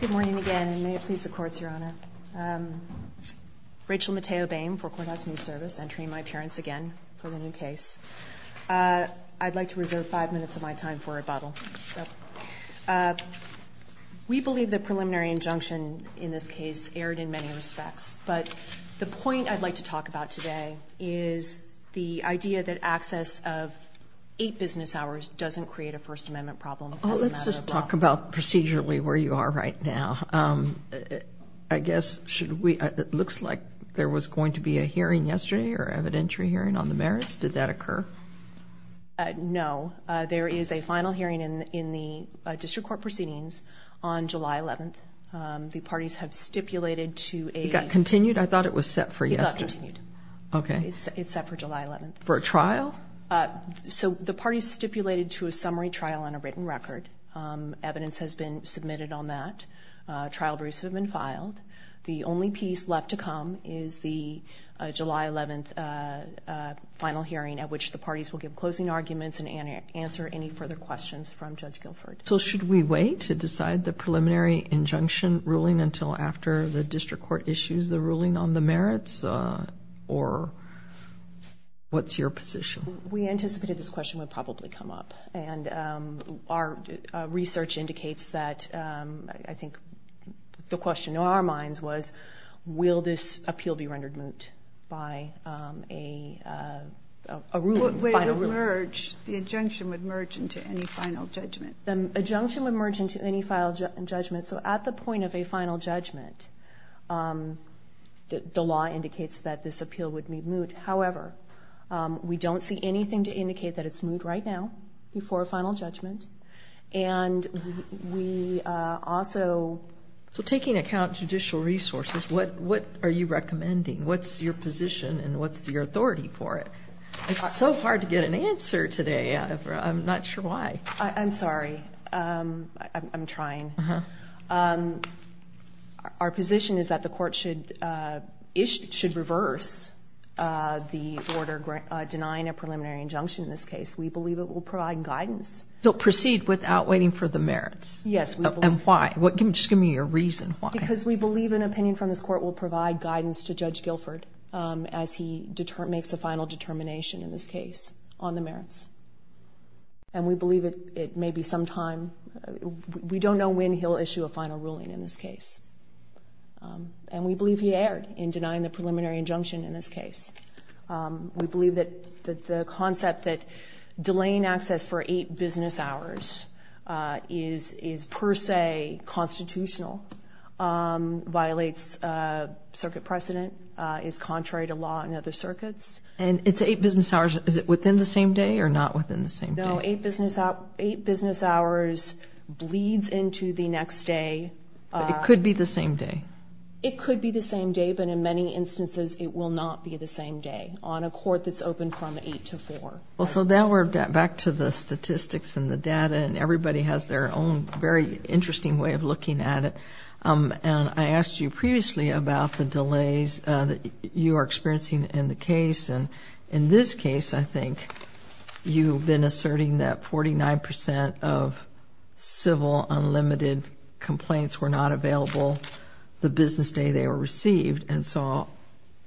Good morning again, and may it please the courts, Your Honor. Rachel Mateo Boehm for Courthouse News Service, entering my appearance again for the new case. I'd like to reserve five minutes of my time for rebuttal. We believe the preliminary injunction in this case erred in many respects, but the point I'd like to talk about today is the idea that access of eight business hours doesn't create a First Amendment problem. Oh, let's just talk about procedurally where you are right now. I guess it looks like there was going to be a hearing yesterday, or evidentiary hearing on the merits. Did that occur? No. There is a final hearing in the district court proceedings on July 11th. The parties have stipulated to a – It got continued? I thought it was set for yesterday. It got continued. Okay. It's set for July 11th. For a trial? So the parties stipulated to a summary trial on a written record. Evidence has been submitted on that. Trial briefs have been filed. The only piece left to come is the July 11th final hearing at which the parties will give closing arguments and answer any further questions from Judge Guilford. So should we wait to decide the preliminary injunction ruling until after the district court issues the ruling on the merits? Or what's your position? We anticipated this question would probably come up. And our research indicates that I think the question in our minds was, will this appeal be rendered moot by a ruling, a final ruling? The injunction would merge into any final judgment. The injunction would merge into any final judgment. So at the point of a final judgment, the law indicates that this appeal would be moot. However, we don't see anything to indicate that it's moot right now before a final judgment. And we also – So taking account judicial resources, what are you recommending? What's your position and what's your authority for it? It's so hard to get an answer today. I'm not sure why. I'm sorry. I'm trying. Our position is that the court should reverse the order denying a preliminary injunction in this case. We believe it will provide guidance. So proceed without waiting for the merits? Yes. And why? Just give me your reason why. Because we believe an opinion from this court will provide guidance to Judge Guilford as he makes a final determination in this case on the merits. And we believe it may be sometime – we don't know when he'll issue a final ruling in this case. And we believe he erred in denying the preliminary injunction in this case. We believe that the concept that delaying access for eight business hours is per se constitutional, violates circuit precedent, is contrary to law in other circuits. And it's eight business hours. Is it within the same day or not within the same day? No, eight business hours bleeds into the next day. It could be the same day? It could be the same day, but in many instances it will not be the same day on a court that's open from 8 to 4. Well, so now we're back to the statistics and the data, and everybody has their own very interesting way of looking at it. And I asked you previously about the delays that you are experiencing in the case. And in this case, I think, you've been asserting that 49 percent of civil, unlimited complaints were not available the business day they were received. And so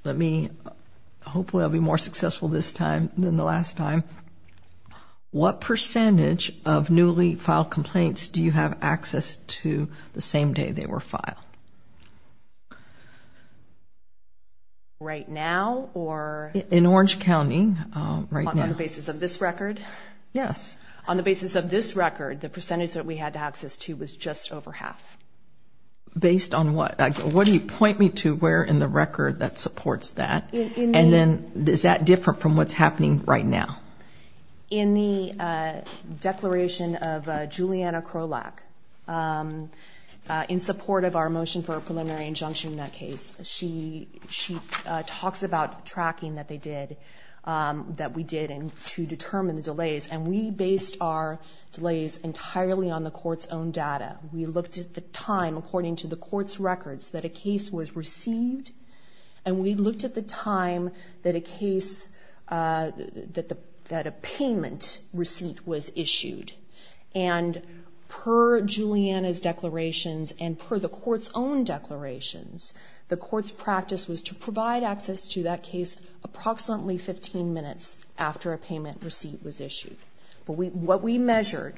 let me – hopefully I'll be more successful this time than the last time. What percentage of newly filed complaints do you have access to the same day they were filed? Right now or? In Orange County, right now. On the basis of this record? Yes. On the basis of this record, the percentage that we had access to was just over half. Based on what? What do you point me to where in the record that supports that? And then is that different from what's happening right now? In the declaration of Juliana Krolak, in support of our motion for a preliminary injunction in that case, she talks about tracking that they did, that we did, to determine the delays. And we based our delays entirely on the court's own data. We looked at the time according to the court's records that a case was received, and we looked at the time that a payment receipt was issued. And per Juliana's declarations and per the court's own declarations, the court's practice was to provide access to that case approximately 15 minutes after a payment receipt was issued. But what we measured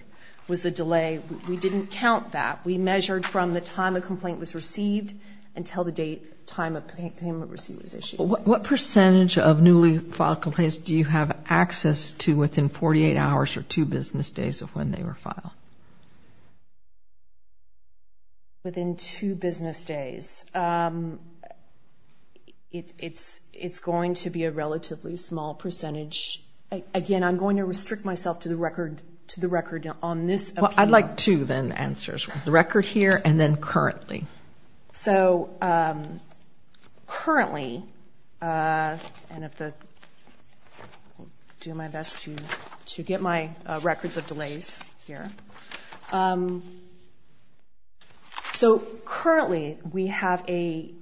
was the delay. We didn't count that. We measured from the time a complaint was received until the date, time a payment receipt was issued. What percentage of newly filed complaints do you have access to within 48 hours or two business days of when they were filed? Within two business days. It's going to be a relatively small percentage. Again, I'm going to restrict myself to the record on this appeal. I'd like two, then, answers. The record here and then currently. So, currently, and I'll do my best to get my records of delays here. So, currently, we have a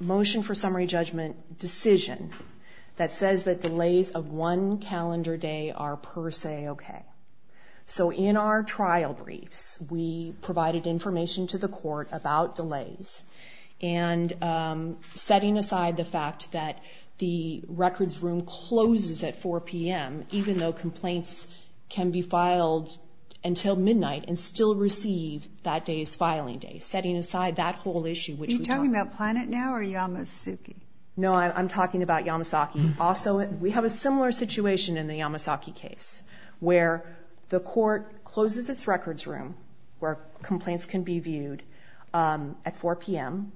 motion for summary judgment decision that says that delays of one calendar day are per se okay. So, in our trial briefs, we provided information to the court about delays and setting aside the fact that the records room closes at 4 p.m., even though complaints can be filed until midnight and still receive that day as filing day, setting aside that whole issue which we talked about. Are you talking about Planet now or Yamasaki? No, I'm talking about Yamasaki. We have a similar situation in the Yamasaki case where the court closes its records room where complaints can be viewed at 4 p.m.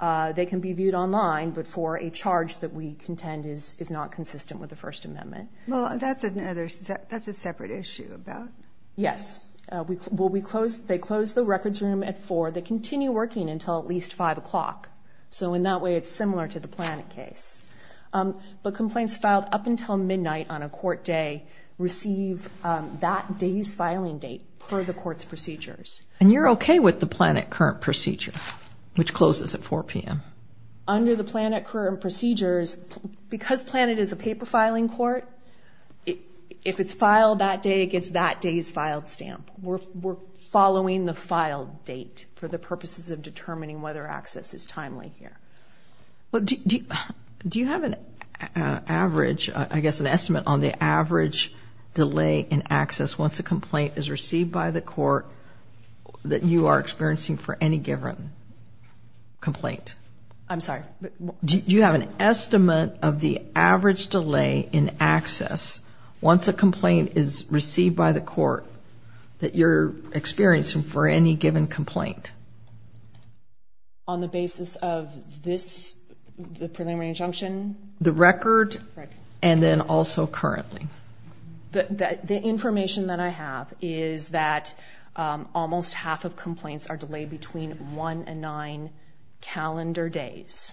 They can be viewed online, but for a charge that we contend is not consistent with the First Amendment. Well, that's a separate issue. Yes. They close the records room at 4. They continue working until at least 5 o'clock. So, in that way, it's similar to the Planet case. But complaints filed up until midnight on a court day receive that day's filing date per the court's procedures. And you're okay with the Planet current procedure, which closes at 4 p.m.? Under the Planet current procedures, because Planet is a paper filing court, if it's filed that day, it gets that day's filed stamp. We're following the filed date for the purposes of determining whether access is timely here. Do you have an average, I guess an estimate on the average delay in access once a complaint is received by the court that you are experiencing for any given complaint? I'm sorry? Do you have an estimate of the average delay in access once a complaint is received by the court that you're experiencing for any given complaint? On the basis of this, the preliminary injunction? The record, and then also currently. The information that I have is that almost half of complaints are delayed between 1 and 9 calendar days.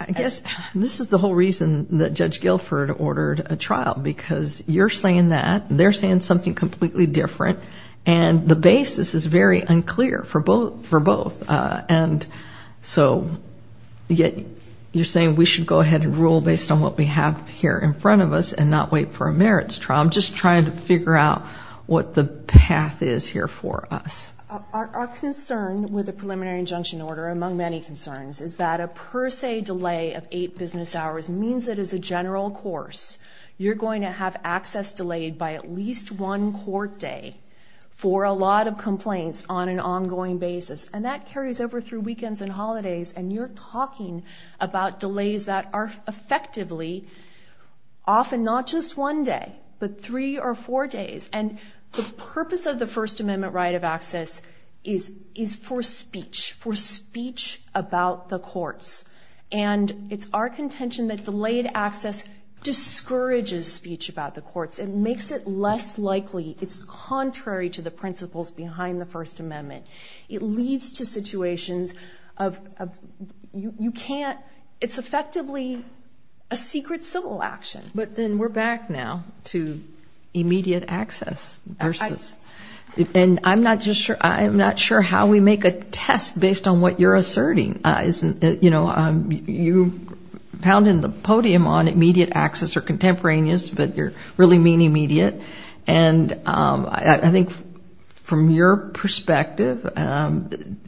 I guess this is the whole reason that Judge Guilford ordered a trial, because you're saying that, they're saying something completely different, and the basis is very unclear for both. And so you're saying we should go ahead and rule based on what we have here in front of us and not wait for a merits trial. I'm just trying to figure out what the path is here for us. Our concern with the preliminary injunction order, among many concerns, is that a per se delay of eight business hours means that as a general course, you're going to have access delayed by at least one court day for a lot of complaints on an ongoing basis. And that carries over through weekends and holidays, and you're talking about delays that are effectively often not just one day, but three or four days. And the purpose of the First Amendment right of access is for speech, for speech about the courts. And it's our contention that delayed access discourages speech about the courts. It makes it less likely. It's contrary to the principles behind the First Amendment. It leads to situations of you can't, it's effectively a secret civil action. But then we're back now to immediate access versus, And I'm not sure how we make a test based on what you're asserting. You pounded the podium on immediate access or contemporaneous, but you're really meaning immediate. And I think from your perspective,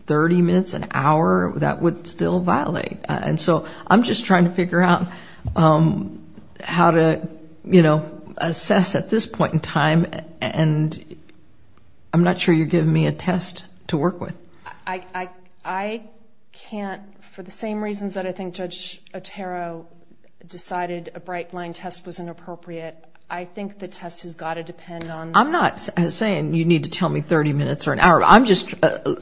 30 minutes, an hour, that would still violate. And so I'm just trying to figure out how to assess at this point in time and I'm not sure you're giving me a test to work with. I can't, for the same reasons that I think Judge Otero decided a bright line test was inappropriate. I think the test has got to depend on. I'm not saying you need to tell me 30 minutes or an hour. I'm just,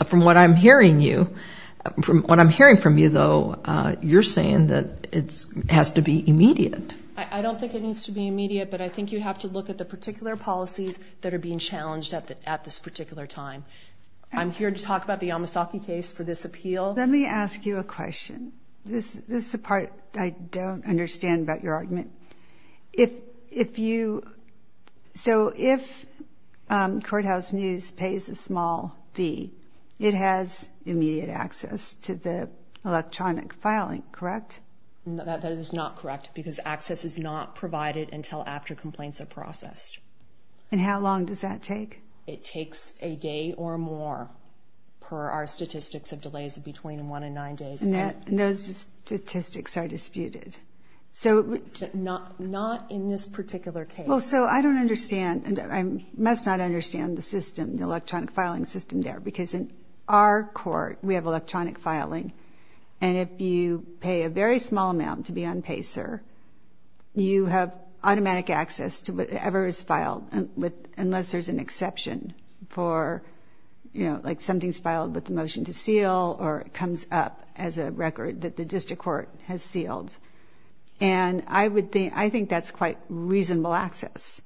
from what I'm hearing you, from what I'm hearing from you, though, you're saying that it has to be immediate. I don't think it needs to be immediate, but I think you have to look at the particular policies that are being challenged at this particular time. I'm here to talk about the Yamasaki case for this appeal. Let me ask you a question. This is the part I don't understand about your argument. If you, so if Courthouse News pays a small fee, it has immediate access to the electronic filing, correct? That is not correct because access is not provided until after complaints are processed. And how long does that take? It takes a day or more per our statistics of delays of between one and nine days. And those statistics are disputed? Not in this particular case. Well, so I don't understand, and I must not understand the system, the electronic filing system there because in our court we have electronic filing and if you pay a very small amount to be on PACER, you have automatic access to whatever is filed unless there's an exception for, you know, like something's filed with the motion to seal or it comes up as a record that the district court has sealed. And I think that's quite reasonable access.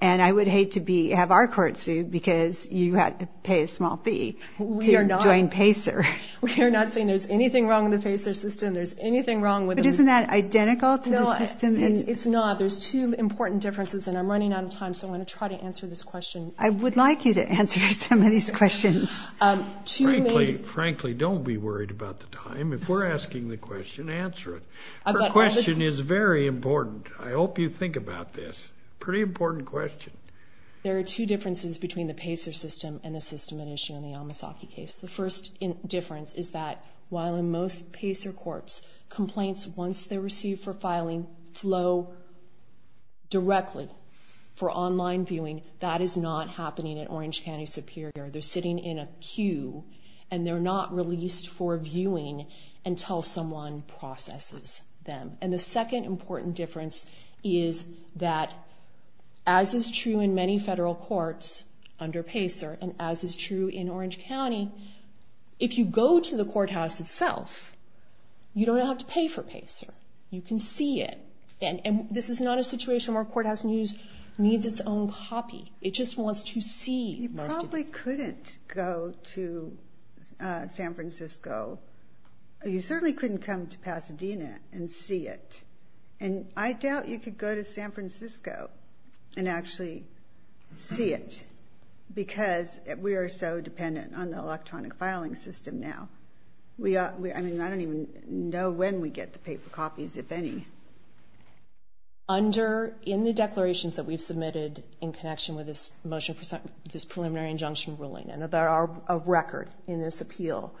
And I would hate to have our court sued because you had to pay a small fee to join PACER. We are not saying there's anything wrong with the PACER system. There's anything wrong with it. But isn't that identical to the system? No, it's not. There's two important differences, and I'm running out of time, so I'm going to try to answer this question. I would like you to answer some of these questions. Frankly, don't be worried about the time. If we're asking the question, answer it. Her question is very important. I hope you think about this. Pretty important question. There are two differences between the PACER system and the system at issue in the Yamasaki case. The first difference is that while in most PACER courts complaints, once they're received for filing, flow directly for online viewing, that is not happening at Orange County Superior. They're sitting in a queue, and they're not released for viewing until someone processes them. And the second important difference is that as is true in many federal courts under PACER and as is true in Orange County, if you go to the courthouse itself, you don't have to pay for PACER. You can see it. And this is not a situation where courthouse news needs its own copy. It just wants to see most of it. You probably couldn't go to San Francisco. You certainly couldn't come to Pasadena and see it. And I doubt you could go to San Francisco and actually see it because we are so dependent on the electronic filing system now. I mean, I don't even know when we get the paper copies, if any. In the declarations that we've submitted in connection with this motion for this preliminary injunction ruling, and there are a record in this appeal,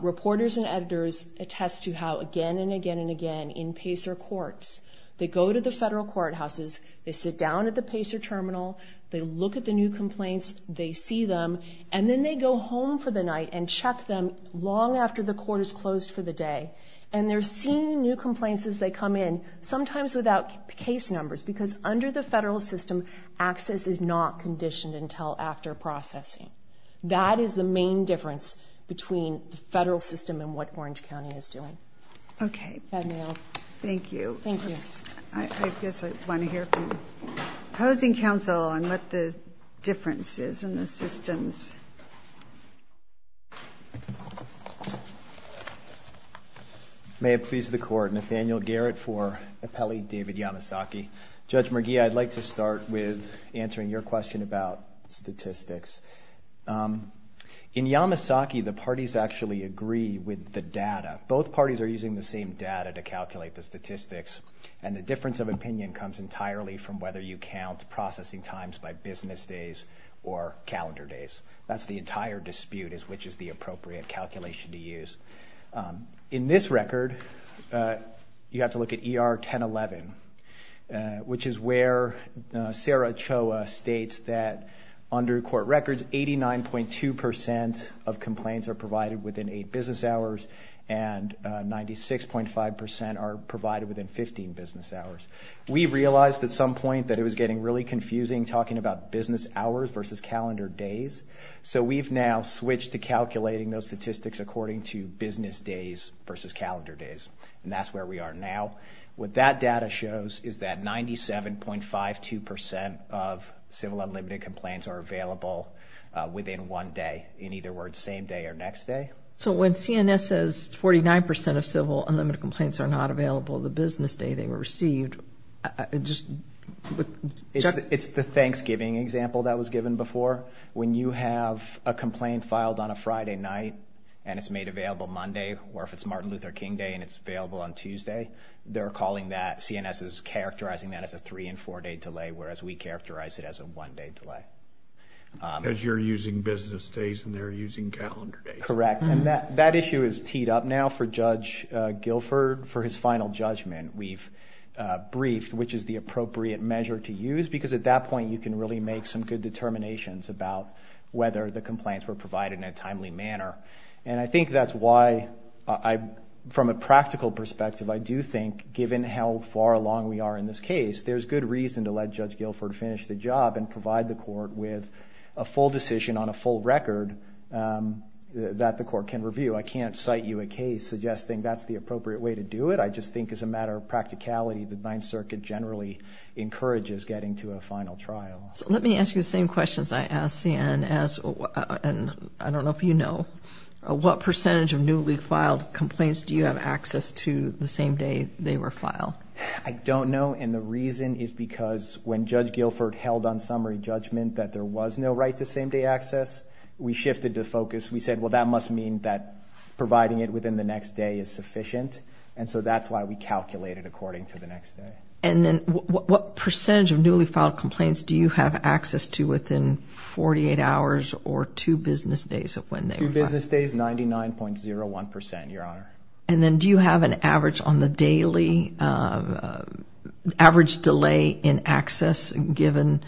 reporters and editors attest to how again and again and again in PACER courts, they go to the federal courthouses, they sit down at the PACER terminal, they look at the new complaints, they see them, and then they go home for the night and check them long after the court is closed for the day. And they're seeing new complaints as they come in, sometimes without case numbers, because under the federal system, access is not conditioned until after processing. That is the main difference between the federal system and what Orange County is doing. Okay. Thank you. Thank you. I guess I want to hear from the Housing Council on what the difference is in the systems. May it please the Court, Nathaniel Garrett for appellee David Yamasaki. Judge McGee, I'd like to start with answering your question about statistics. In Yamasaki, the parties actually agree with the data. Both parties are using the same data to calculate the statistics, and the difference of opinion comes entirely from whether you count processing times by business days or calendar days. That's the entire dispute is which is the appropriate calculation to use. In this record, you have to look at ER 1011, which is where Sarah Choa states that under court records, 89.2% of complaints are provided within eight business hours, and 96.5% are provided within 15 business hours. We realized at some point that it was getting really confusing talking about business hours versus calendar days, so we've now switched to calculating those statistics according to business days versus calendar days, and that's where we are now. What that data shows is that 97.52% of civil unlimited complaints are available within one day, in either words, same day or next day. So when CNS says 49% of civil unlimited complaints are not available the business day they were received, it's the Thanksgiving example that was given before. When you have a complaint filed on a Friday night, and it's made available Monday, or if it's Martin Luther King Day and it's available on Tuesday, they're calling that, CNS is characterizing that as a three- and four-day delay, whereas we characterize it as a one-day delay. Because you're using business days and they're using calendar days. Correct, and that issue is teed up now for Judge Guilford. For his final judgment, we've briefed which is the appropriate measure to use, because at that point you can really make some good determinations about whether the complaints were provided in a timely manner, and I think that's why, from a practical perspective, I do think given how far along we are in this case, there's good reason to let Judge Guilford finish the job and provide the court with a full decision on a full record that the court can review. I can't cite you a case suggesting that's the appropriate way to do it. I just think as a matter of practicality, the Ninth Circuit generally encourages getting to a final trial. Let me ask you the same questions I asked CNS, and I don't know if you know, what percentage of newly filed complaints do you have access to the same day they were filed? I don't know, and the reason is because when Judge Guilford held on summary judgment that there was no right-to-same-day access, we shifted the focus. We said, well, that must mean that providing it within the next day is sufficient, and so that's why we calculated according to the next day. And then what percentage of newly filed complaints do you have access to within 48 hours or two business days of when they were filed? Two business days, 99.01 percent, Your Honor. And then do you have an average on the daily, average delay in access given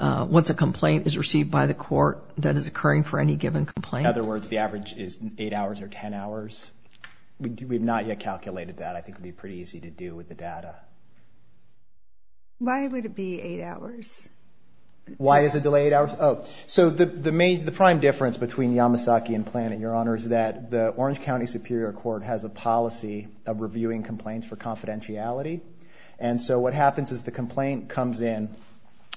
once a complaint is received by the court that is occurring for any given complaint? In other words, the average is 8 hours or 10 hours. We've not yet calculated that. I think it would be pretty easy to do with the data. Why would it be 8 hours? Why is it delayed 8 hours? So the prime difference between Yamasaki and Plano, Your Honor, is that the Orange County Superior Court has a policy of reviewing complaints for confidentiality, and so what happens is the complaint comes in.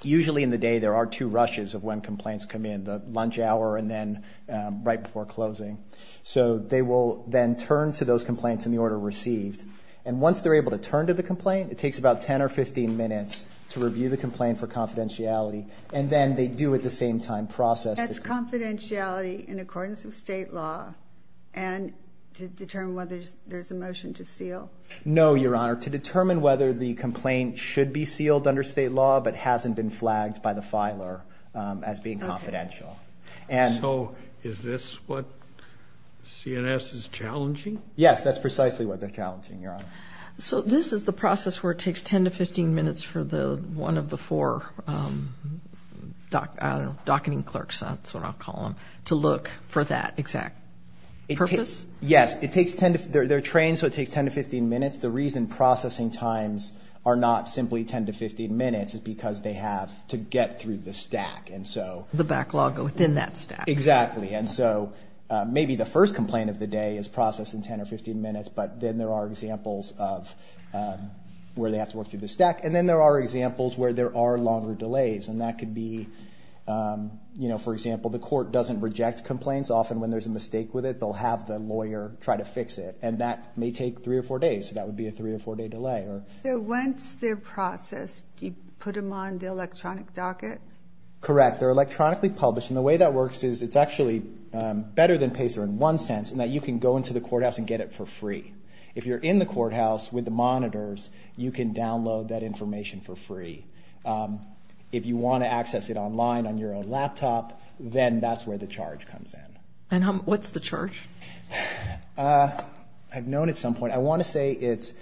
Usually in the day there are two rushes of when complaints come in, the lunch hour and then right before closing. So they will then turn to those complaints in the order received, and once they're able to turn to the complaint, it takes about 10 or 15 minutes to review the complaint for confidentiality, and then they do at the same time process the complaint. That's confidentiality in accordance with state law and to determine whether there's a motion to seal? No, Your Honor. To determine whether the complaint should be sealed under state law but hasn't been flagged by the filer as being confidential. So is this what CNS is challenging? Yes, that's precisely what they're challenging, Your Honor. So this is the process where it takes 10 to 15 minutes for one of the four docketing clerks, that's what I'll call them, to look for that exact purpose? Yes, they're trained so it takes 10 to 15 minutes. The reason processing times are not simply 10 to 15 minutes is because they have to get through the stack. The backlog within that stack. Exactly, and so maybe the first complaint of the day is processed in 10 or 15 minutes, but then there are examples of where they have to work through the stack, and then there are examples where there are longer delays, and that could be, for example, the court doesn't reject complaints. Often when there's a mistake with it, they'll have the lawyer try to fix it, and that may take three or four days, so that would be a three or four-day delay. So once they're processed, do you put them on the electronic docket? Correct. They're electronically published, and the way that works is it's actually better than PACER in one sense in that you can go into the courthouse and get it for free. If you're in the courthouse with the monitors, you can download that information for free. If you want to access it online on your own laptop, then that's where the charge comes in. And what's the charge? I've known at some point. I want to say it's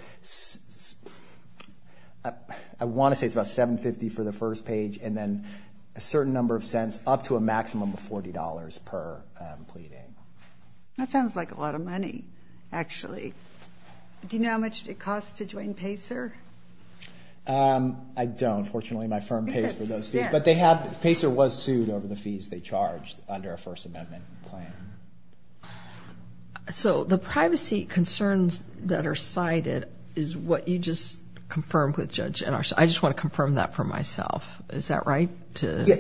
about $7.50 for the first page, and then a certain number of cents up to a maximum of $40 per pleading. That sounds like a lot of money, actually. Do you know how much it costs to join PACER? I don't. Fortunately, my firm pays for those fees, but PACER was sued over the fees they charged under a First Amendment plan. So the privacy concerns that are cited is what you just confirmed with Judge Ennars. I just want to confirm that for myself. Is that right?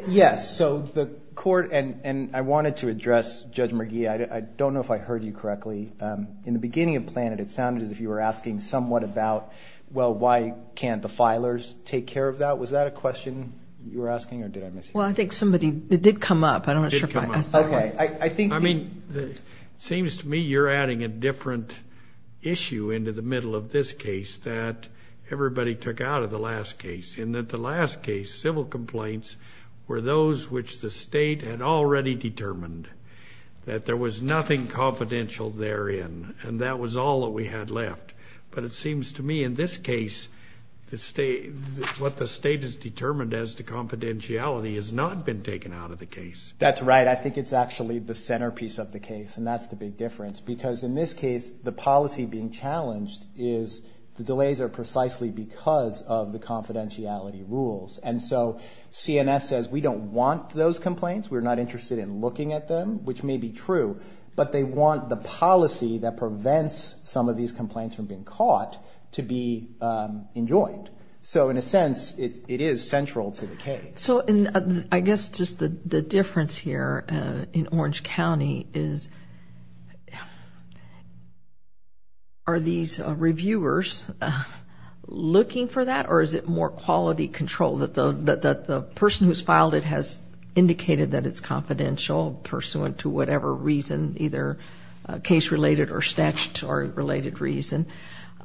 Yes. So the court, and I wanted to address Judge McGee. I don't know if I heard you correctly. In the beginning of the plan, it sounded as if you were asking somewhat about, well, why can't the filers take care of that? Was that a question you were asking, or did I mishear? Well, I think somebody did come up. It seems to me you're adding a different issue into the middle of this case that everybody took out of the last case, in that the last case civil complaints were those which the state had already determined, that there was nothing confidential therein, and that was all that we had left. But it seems to me in this case what the state has determined as the confidentiality has not been taken out of the case. That's right. I think it's actually the centerpiece of the case, and that's the big difference, because in this case the policy being challenged is the delays are precisely because of the confidentiality rules. And so CNS says we don't want those complaints. We're not interested in looking at them, which may be true, but they want the policy that prevents some of these complaints from being caught to be enjoyed. So in a sense it is central to the case. So I guess just the difference here in Orange County is are these reviewers looking for that, or is it more quality control, that the person who's filed it has indicated that it's confidential, pursuant to whatever reason, either case-related or statutory-related reason,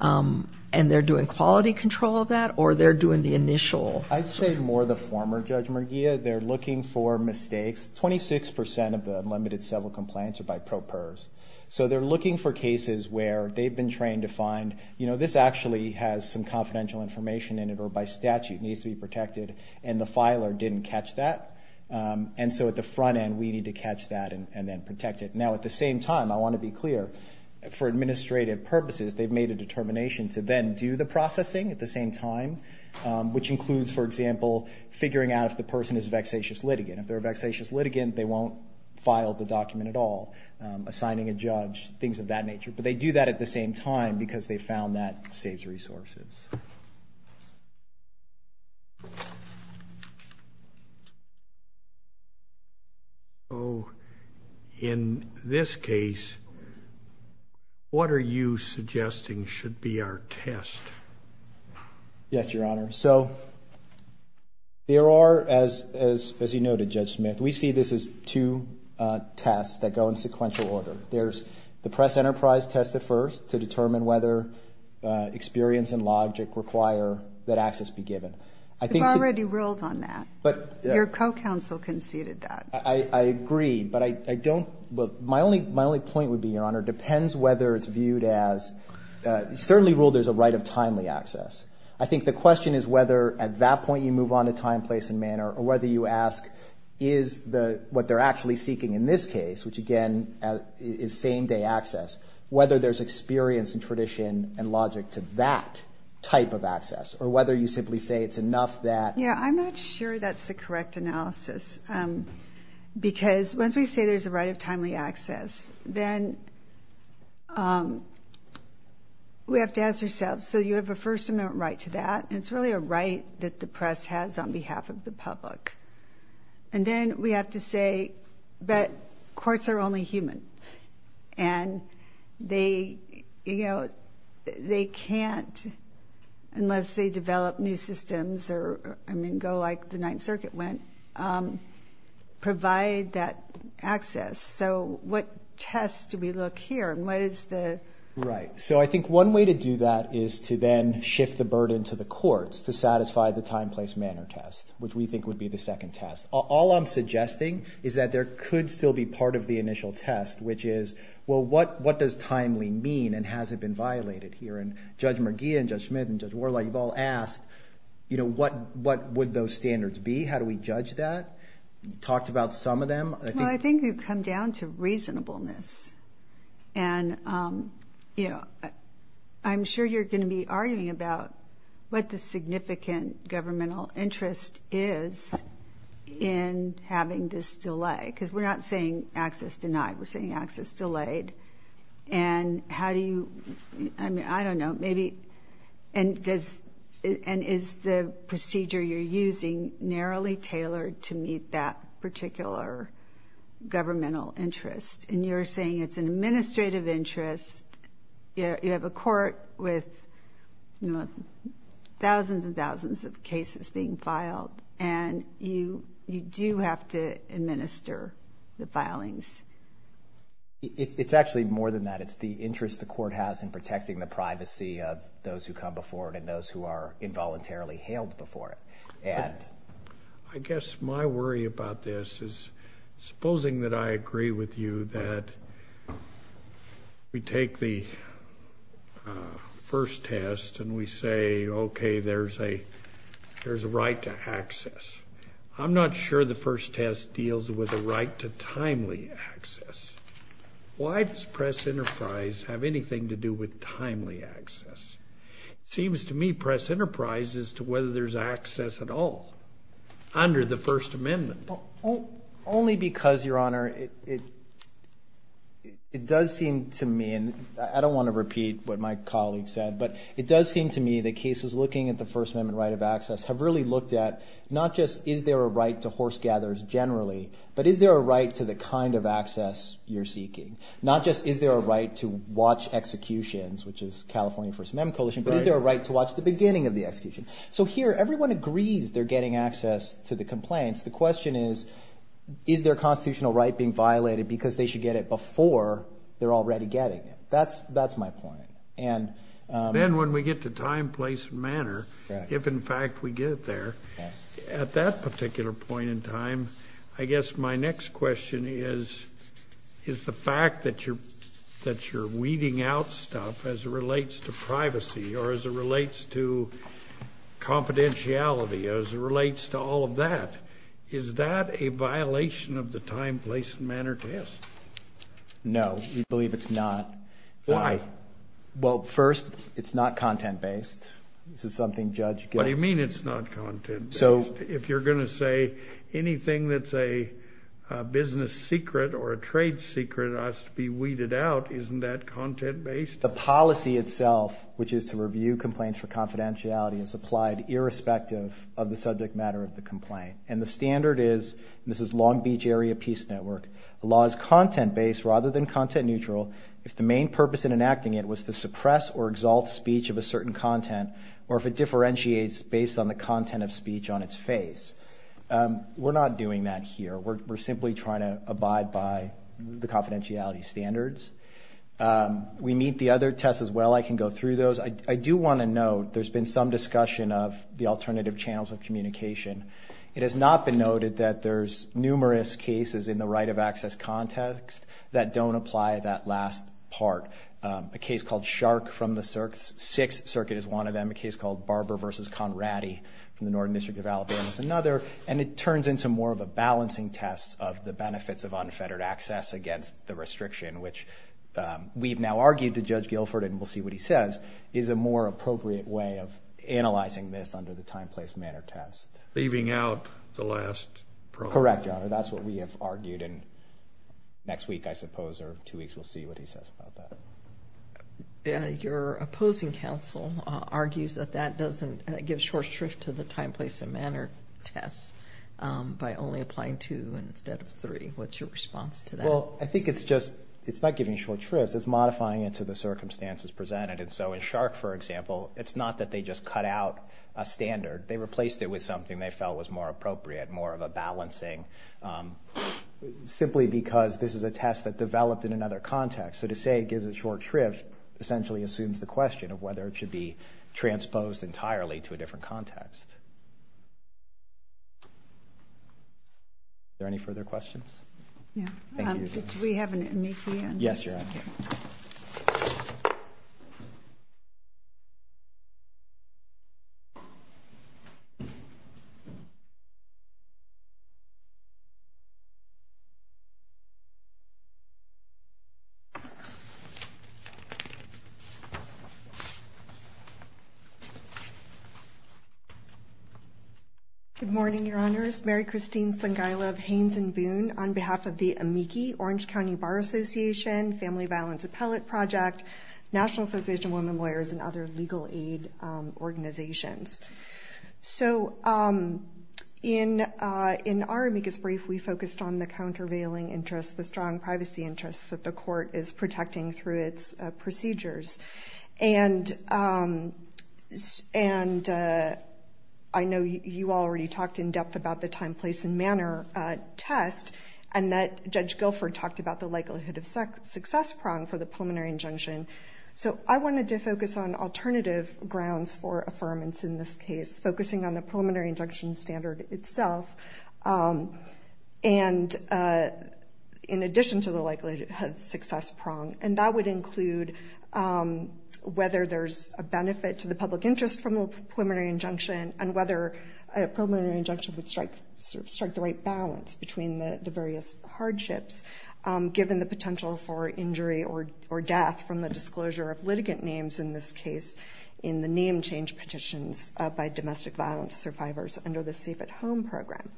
and they're doing quality control of that, or they're doing the initial? I'd say more the former Judge Merguia. They're looking for mistakes. Twenty-six percent of the limited civil complaints are by pro pers. So they're looking for cases where they've been trained to find, you know, this actually has some confidential information in it or by statute needs to be protected, and the filer didn't catch that. And so at the front end we need to catch that and then protect it. Now, at the same time, I want to be clear, for administrative purposes, they've made a determination to then do the processing at the same time, which includes, for example, figuring out if the person is a vexatious litigant. If they're a vexatious litigant, they won't file the document at all, assigning a judge, things of that nature, but they do that at the same time because they found that saves resources. So in this case, what are you suggesting should be our test? Yes, Your Honor. So there are, as you noted, Judge Smith, we see this as two tests that go in sequential order. There's the press enterprise test at first to determine whether experience and logic require that access be given. You've already ruled on that. Your co-counsel conceded that. I agree, but my only point would be, Your Honor, it depends whether it's viewed as, certainly ruled there's a right of timely access. I think the question is whether at that point you move on to time, place, and manner, or whether you ask, is what they're actually seeking in this case, which again is same-day access, whether there's experience and tradition and logic to that type of access, or whether you simply say it's enough that. Yeah, I'm not sure that's the correct analysis because once we say there's a right of timely access, then we have to ask ourselves, so you have a first-amendment right to that, and it's really a right that the press has on behalf of the public. And then we have to say that courts are only human, and they can't, unless they develop new systems or go like the Ninth Circuit went, provide that access. So what test do we look here, and what is the... Right, so I think one way to do that is to then shift the burden to the courts to satisfy the time, place, manner test, which we think would be the second test. All I'm suggesting is that there could still be part of the initial test, which is, well, what does timely mean, and has it been violated here? And Judge Merguia and Judge Schmidt and Judge Warlock, you've all asked, what would those standards be, how do we judge that? You've talked about some of them. Well, I think you've come down to reasonableness, and I'm sure you're going to be arguing about what the significant governmental interest is in having this delay, because we're not saying access denied, we're saying access delayed. And how do you, I don't know, maybe, and is the procedure you're using narrowly tailored to meet that particular governmental interest? And you're saying it's an administrative interest, you have a court with thousands and thousands of cases being filed, and you do have to administer the filings. It's actually more than that. It's the interest the court has in protecting the privacy of those who come before it and those who are involuntarily hailed before it. I guess my worry about this is, supposing that I agree with you that we take the first test and we say, okay, there's a right to access. I'm not sure the first test deals with a right to timely access. Why does press enterprise have anything to do with timely access? It seems to me press enterprise is to whether there's access at all under the First Amendment. Only because, Your Honor, it does seem to me, and I don't want to repeat what my colleague said, but it does seem to me that cases looking at the First Amendment right of access have really looked at not just is there a right to horse gathers generally, but is there a right to the kind of access you're seeking? Not just is there a right to watch executions, which is California First Amendment Coalition, but is there a right to watch the beginning of the execution? So here everyone agrees they're getting access to the complaints. The question is, is their constitutional right being violated because they should get it before they're already getting it? That's my point. Then when we get to time, place, and manner, if in fact we get there, at that particular point in time, I guess my next question is, is the fact that you're weeding out stuff as it relates to privacy or as it relates to confidentiality, as it relates to all of that, is that a violation of the time, place, and manner test? No, we believe it's not. Why? Well, first, it's not content-based. What do you mean it's not content-based? If you're going to say anything that's a business secret or a trade secret has to be weeded out, isn't that content-based? The policy itself, which is to review complaints for confidentiality, is applied irrespective of the subject matter of the complaint. And the standard is, and this is Long Beach Area Peace Network, the law is content-based rather than content-neutral if the main purpose in enacting it was to suppress or exalt speech of a certain content or if it differentiates based on the content of speech on its face. We're not doing that here. We're simply trying to abide by the confidentiality standards. We meet the other tests as well. I can go through those. I do want to note there's been some discussion of the alternative channels of communication. It has not been noted that there's numerous cases in the right-of-access context that don't apply that last part. A case called Shark from the Sixth Circuit is one of them, a case called Barber v. Conradi from the Northern District of Alabama is another, and it turns into more of a balancing test of the benefits of unfettered access against the restriction, which we've now argued to Judge Guilford, and we'll see what he says, is a more appropriate way of analyzing this under the time, place, manner test. Leaving out the last program. Correct, Your Honor. That's what we have argued, and next week, I suppose, or two weeks, we'll see what he says about that. Your opposing counsel argues that that doesn't give short shrift to the time, place, and manner test by only applying two instead of three. What's your response to that? Well, I think it's not giving short shrift. It's modifying it to the circumstances presented. And so in Shark, for example, it's not that they just cut out a standard. They replaced it with something they felt was more appropriate, more of a balancing, simply because this is a test that developed in another context. So to say it gives it short shrift essentially assumes the question of whether it should be transposed entirely to a different context. Yeah. Thank you, Your Honor. Do we have an amici? Yes, Your Honor. Okay. Good morning, Your Honors. Mary Christine Sengailov, Haynes & Boone on behalf of the amici, Orange County Bar Association, Family Violence Appellate Project, National Association of Women Lawyers, and other legal aid organizations. So in our amicus brief, we focused on the countervailing interests, the strong privacy interests that the court is protecting through its procedures. And I know you already talked in depth about the time, place, and manner test, and that Judge Guilford talked about the likelihood of success prong for the preliminary injunction. So I wanted to focus on alternative grounds for affirmance in this case, focusing on the preliminary injunction standard itself, and in addition to the likelihood of success prong. And that would include whether there's a benefit to the public interest from a preliminary injunction and whether a preliminary injunction would strike the right balance between the various hardships, given the potential for injury or death from the disclosure of litigant names in this case in the name change petitions by domestic violence survivors under the Safe at Home program.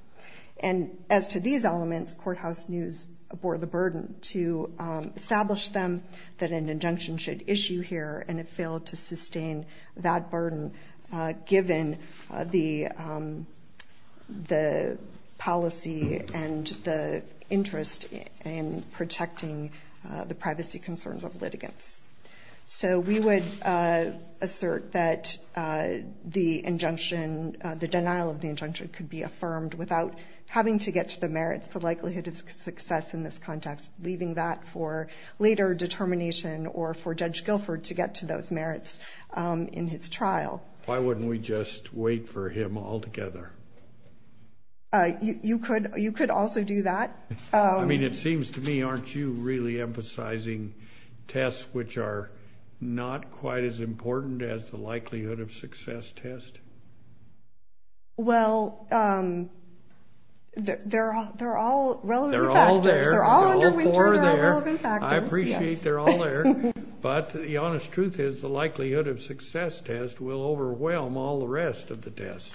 And as to these elements, courthouse news bore the burden to establish them, that an injunction should issue here, and it failed to sustain that burden, given the policy and the interest in protecting the privacy concerns of litigants. So we would assert that the injunction, the denial of the injunction, could be affirmed without having to get to the merits, the likelihood of success in this context, leaving that for later determination or for Judge Guilford to get to those merits in his trial. Why wouldn't we just wait for him altogether? You could also do that. I mean, it seems to me, aren't you really emphasizing tests which are not quite as important as the likelihood of success test? Well, they're all relevant factors. They're all there. They're all under winter and are relevant factors. I appreciate they're all there. But the honest truth is the likelihood of success test will overwhelm all the rest of the tests,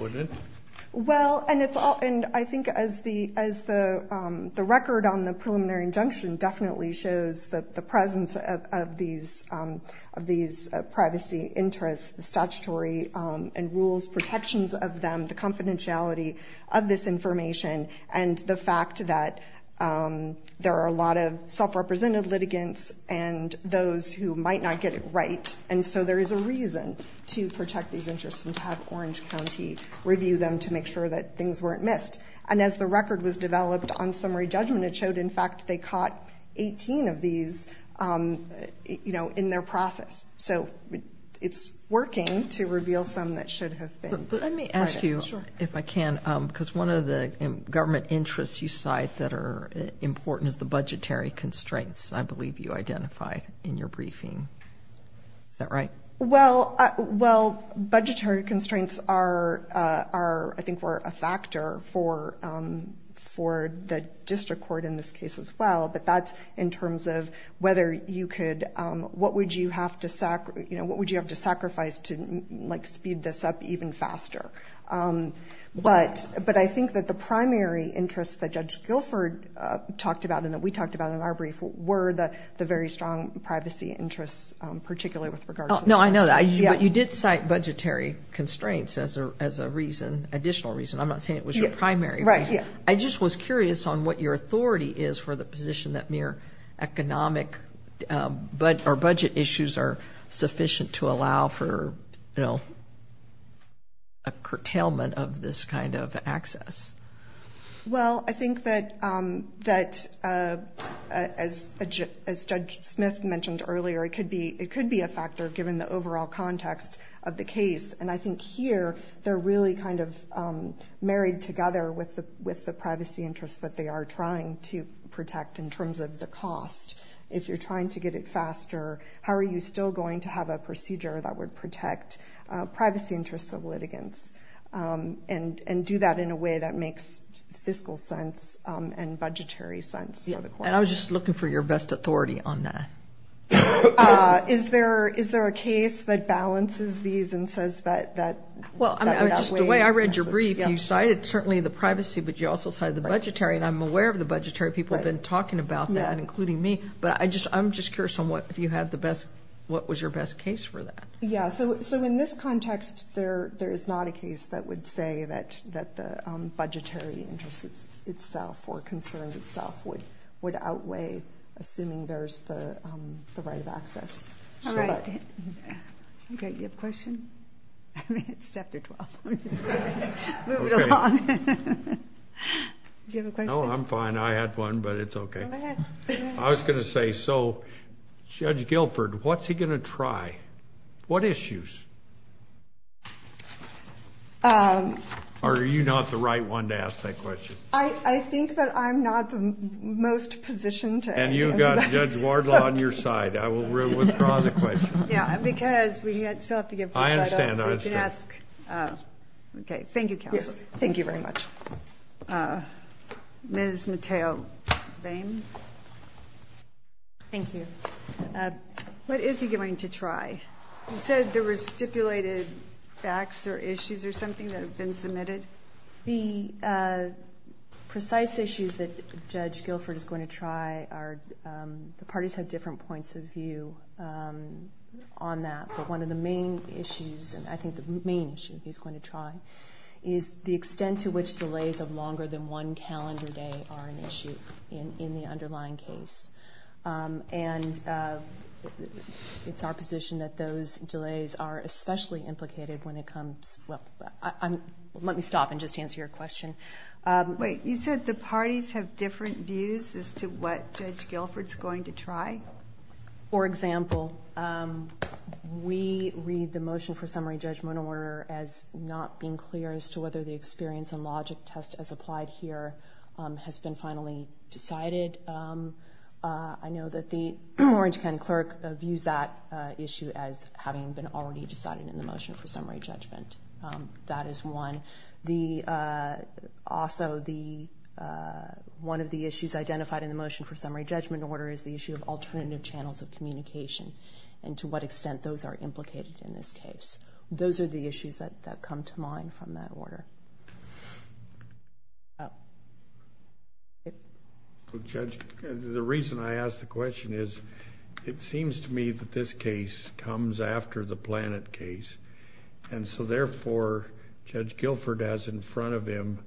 wouldn't it? Well, and I think as the record on the preliminary injunction definitely shows the presence of these privacy interests, the statutory and rules protections of them, the confidentiality of this information, and the fact that there are a lot of self-represented litigants and those who might not get it right. And so there is a reason to protect these interests and to have Orange County review them to make sure that things weren't missed. And as the record was developed on summary judgment, it showed, in fact, they caught 18 of these in their process. So it's working to reveal some that should have been. Let me ask you, if I can, because one of the government interests you cite that are important is the budgetary constraints, I believe you identify in your briefing. Is that right? Well, budgetary constraints are, I think, were a factor for the district court in this case as well. But that's in terms of whether you could, what would you have to sacrifice to speed this up even faster? But I think that the primary interests that Judge Guilford talked about and that we talked about in our brief were the very strong privacy interests, particularly with regard to the budget. No, I know that. But you did cite budgetary constraints as a reason, additional reason. I'm not saying it was your primary reason. I just was curious on what your authority is for the position that mere economic or budget issues are sufficient to allow for, you know, a curtailment of this kind of access. Well, I think that as Judge Smith mentioned earlier, it could be a factor given the overall context of the case. And I think here they're really kind of married together with the privacy interests that they are trying to protect in terms of the cost. If you're trying to get it faster, how are you still going to have a procedure that would protect privacy interests of litigants and do that in a way that makes fiscal sense and budgetary sense for the court? And I was just looking for your best authority on that. Is there a case that balances these and says that that way? Well, just the way I read your brief, you cited certainly the privacy, but you also cited the budgetary. And I'm aware of the budgetary. People have been talking about that, including me. But I'm just curious on what was your best case for that. Yeah, so in this context, there is not a case that would say that the budgetary interests itself or concerns itself would outweigh assuming there's the right of access. All right. You have a question? It's Chapter 12. Move it along. Do you have a question? No, I'm fine. I had one, but it's okay. Go ahead. I was going to say, so Judge Guilford, what's he going to try? What issues? Are you not the right one to ask that question? I think that I'm not the most positioned to answer that. And you've got Judge Wardlaw on your side. I will withdraw the question. Yeah, because we still have to give two finals. I understand. So you can ask. Okay. Thank you, Counsel. Yes, thank you very much. Ms. Mateo-Vein. Thank you. What is he going to try? You said there were stipulated facts or issues or something that have been submitted. The precise issues that Judge Guilford is going to try are the parties have different points of view on that. But one of the main issues, and I think the main issue he's going to try, is the extent to which delays of longer than one calendar day are an issue in the underlying case. And it's our position that those delays are especially implicated when it comes to – well, let me stop and just answer your question. Wait. You said the parties have different views as to what Judge Guilford's going to try? For example, we read the motion for summary judgment order as not being clear as to whether the experience and logic test as applied here has been finally decided. I know that the Orange County Clerk views that issue as having been already decided in the motion for summary judgment. That is one. Also, one of the issues identified in the motion for summary judgment order is the issue of alternative channels of communication and to what extent those are implicated in this case. Those are the issues that come to mind from that order. Judge, the reason I ask the question is it seems to me that this case comes after the Planet case, and so therefore Judge Guilford has in front of him,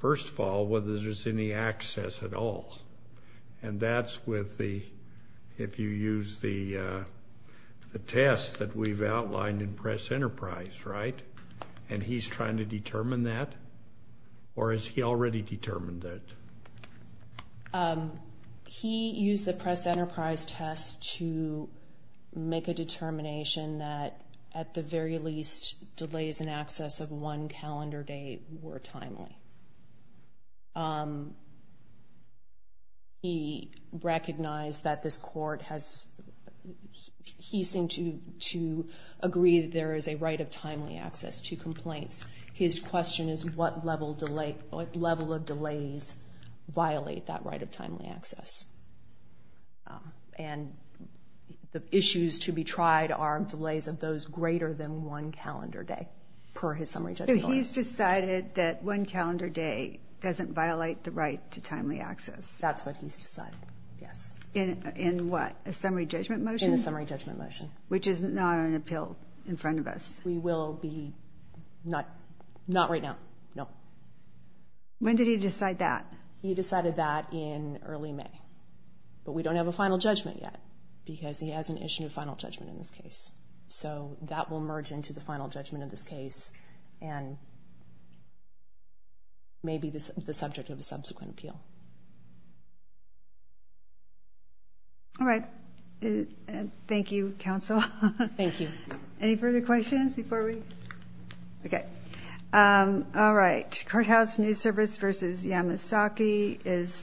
first of all, whether there's any access at all. And that's with the – if you use the test that we've outlined in Press Enterprise, right? And he's trying to determine that? Or has he already determined that? He used the Press Enterprise test to make a determination that, at the very least, delays in access of one calendar day were timely. He recognized that this court has – he seemed to agree that there is a right of timely access to complaints. His question is, what level of delays violate that right of timely access? And the issues to be tried are delays of those greater than one calendar day, per his summary judgment order. So he's decided that one calendar day doesn't violate the right to timely access? That's what he's decided, yes. In what? A summary judgment motion? In the summary judgment motion. Which is not on appeal in front of us. We will be – not right now, no. When did he decide that? He decided that in early May. But we don't have a final judgment yet because he hasn't issued a final judgment in this case. So that will merge into the final judgment in this case and may be the subject of a subsequent appeal. All right. Thank you, counsel. Thank you. Any further questions before we – okay. All right. Courthouse News Service v. Yamasaki is –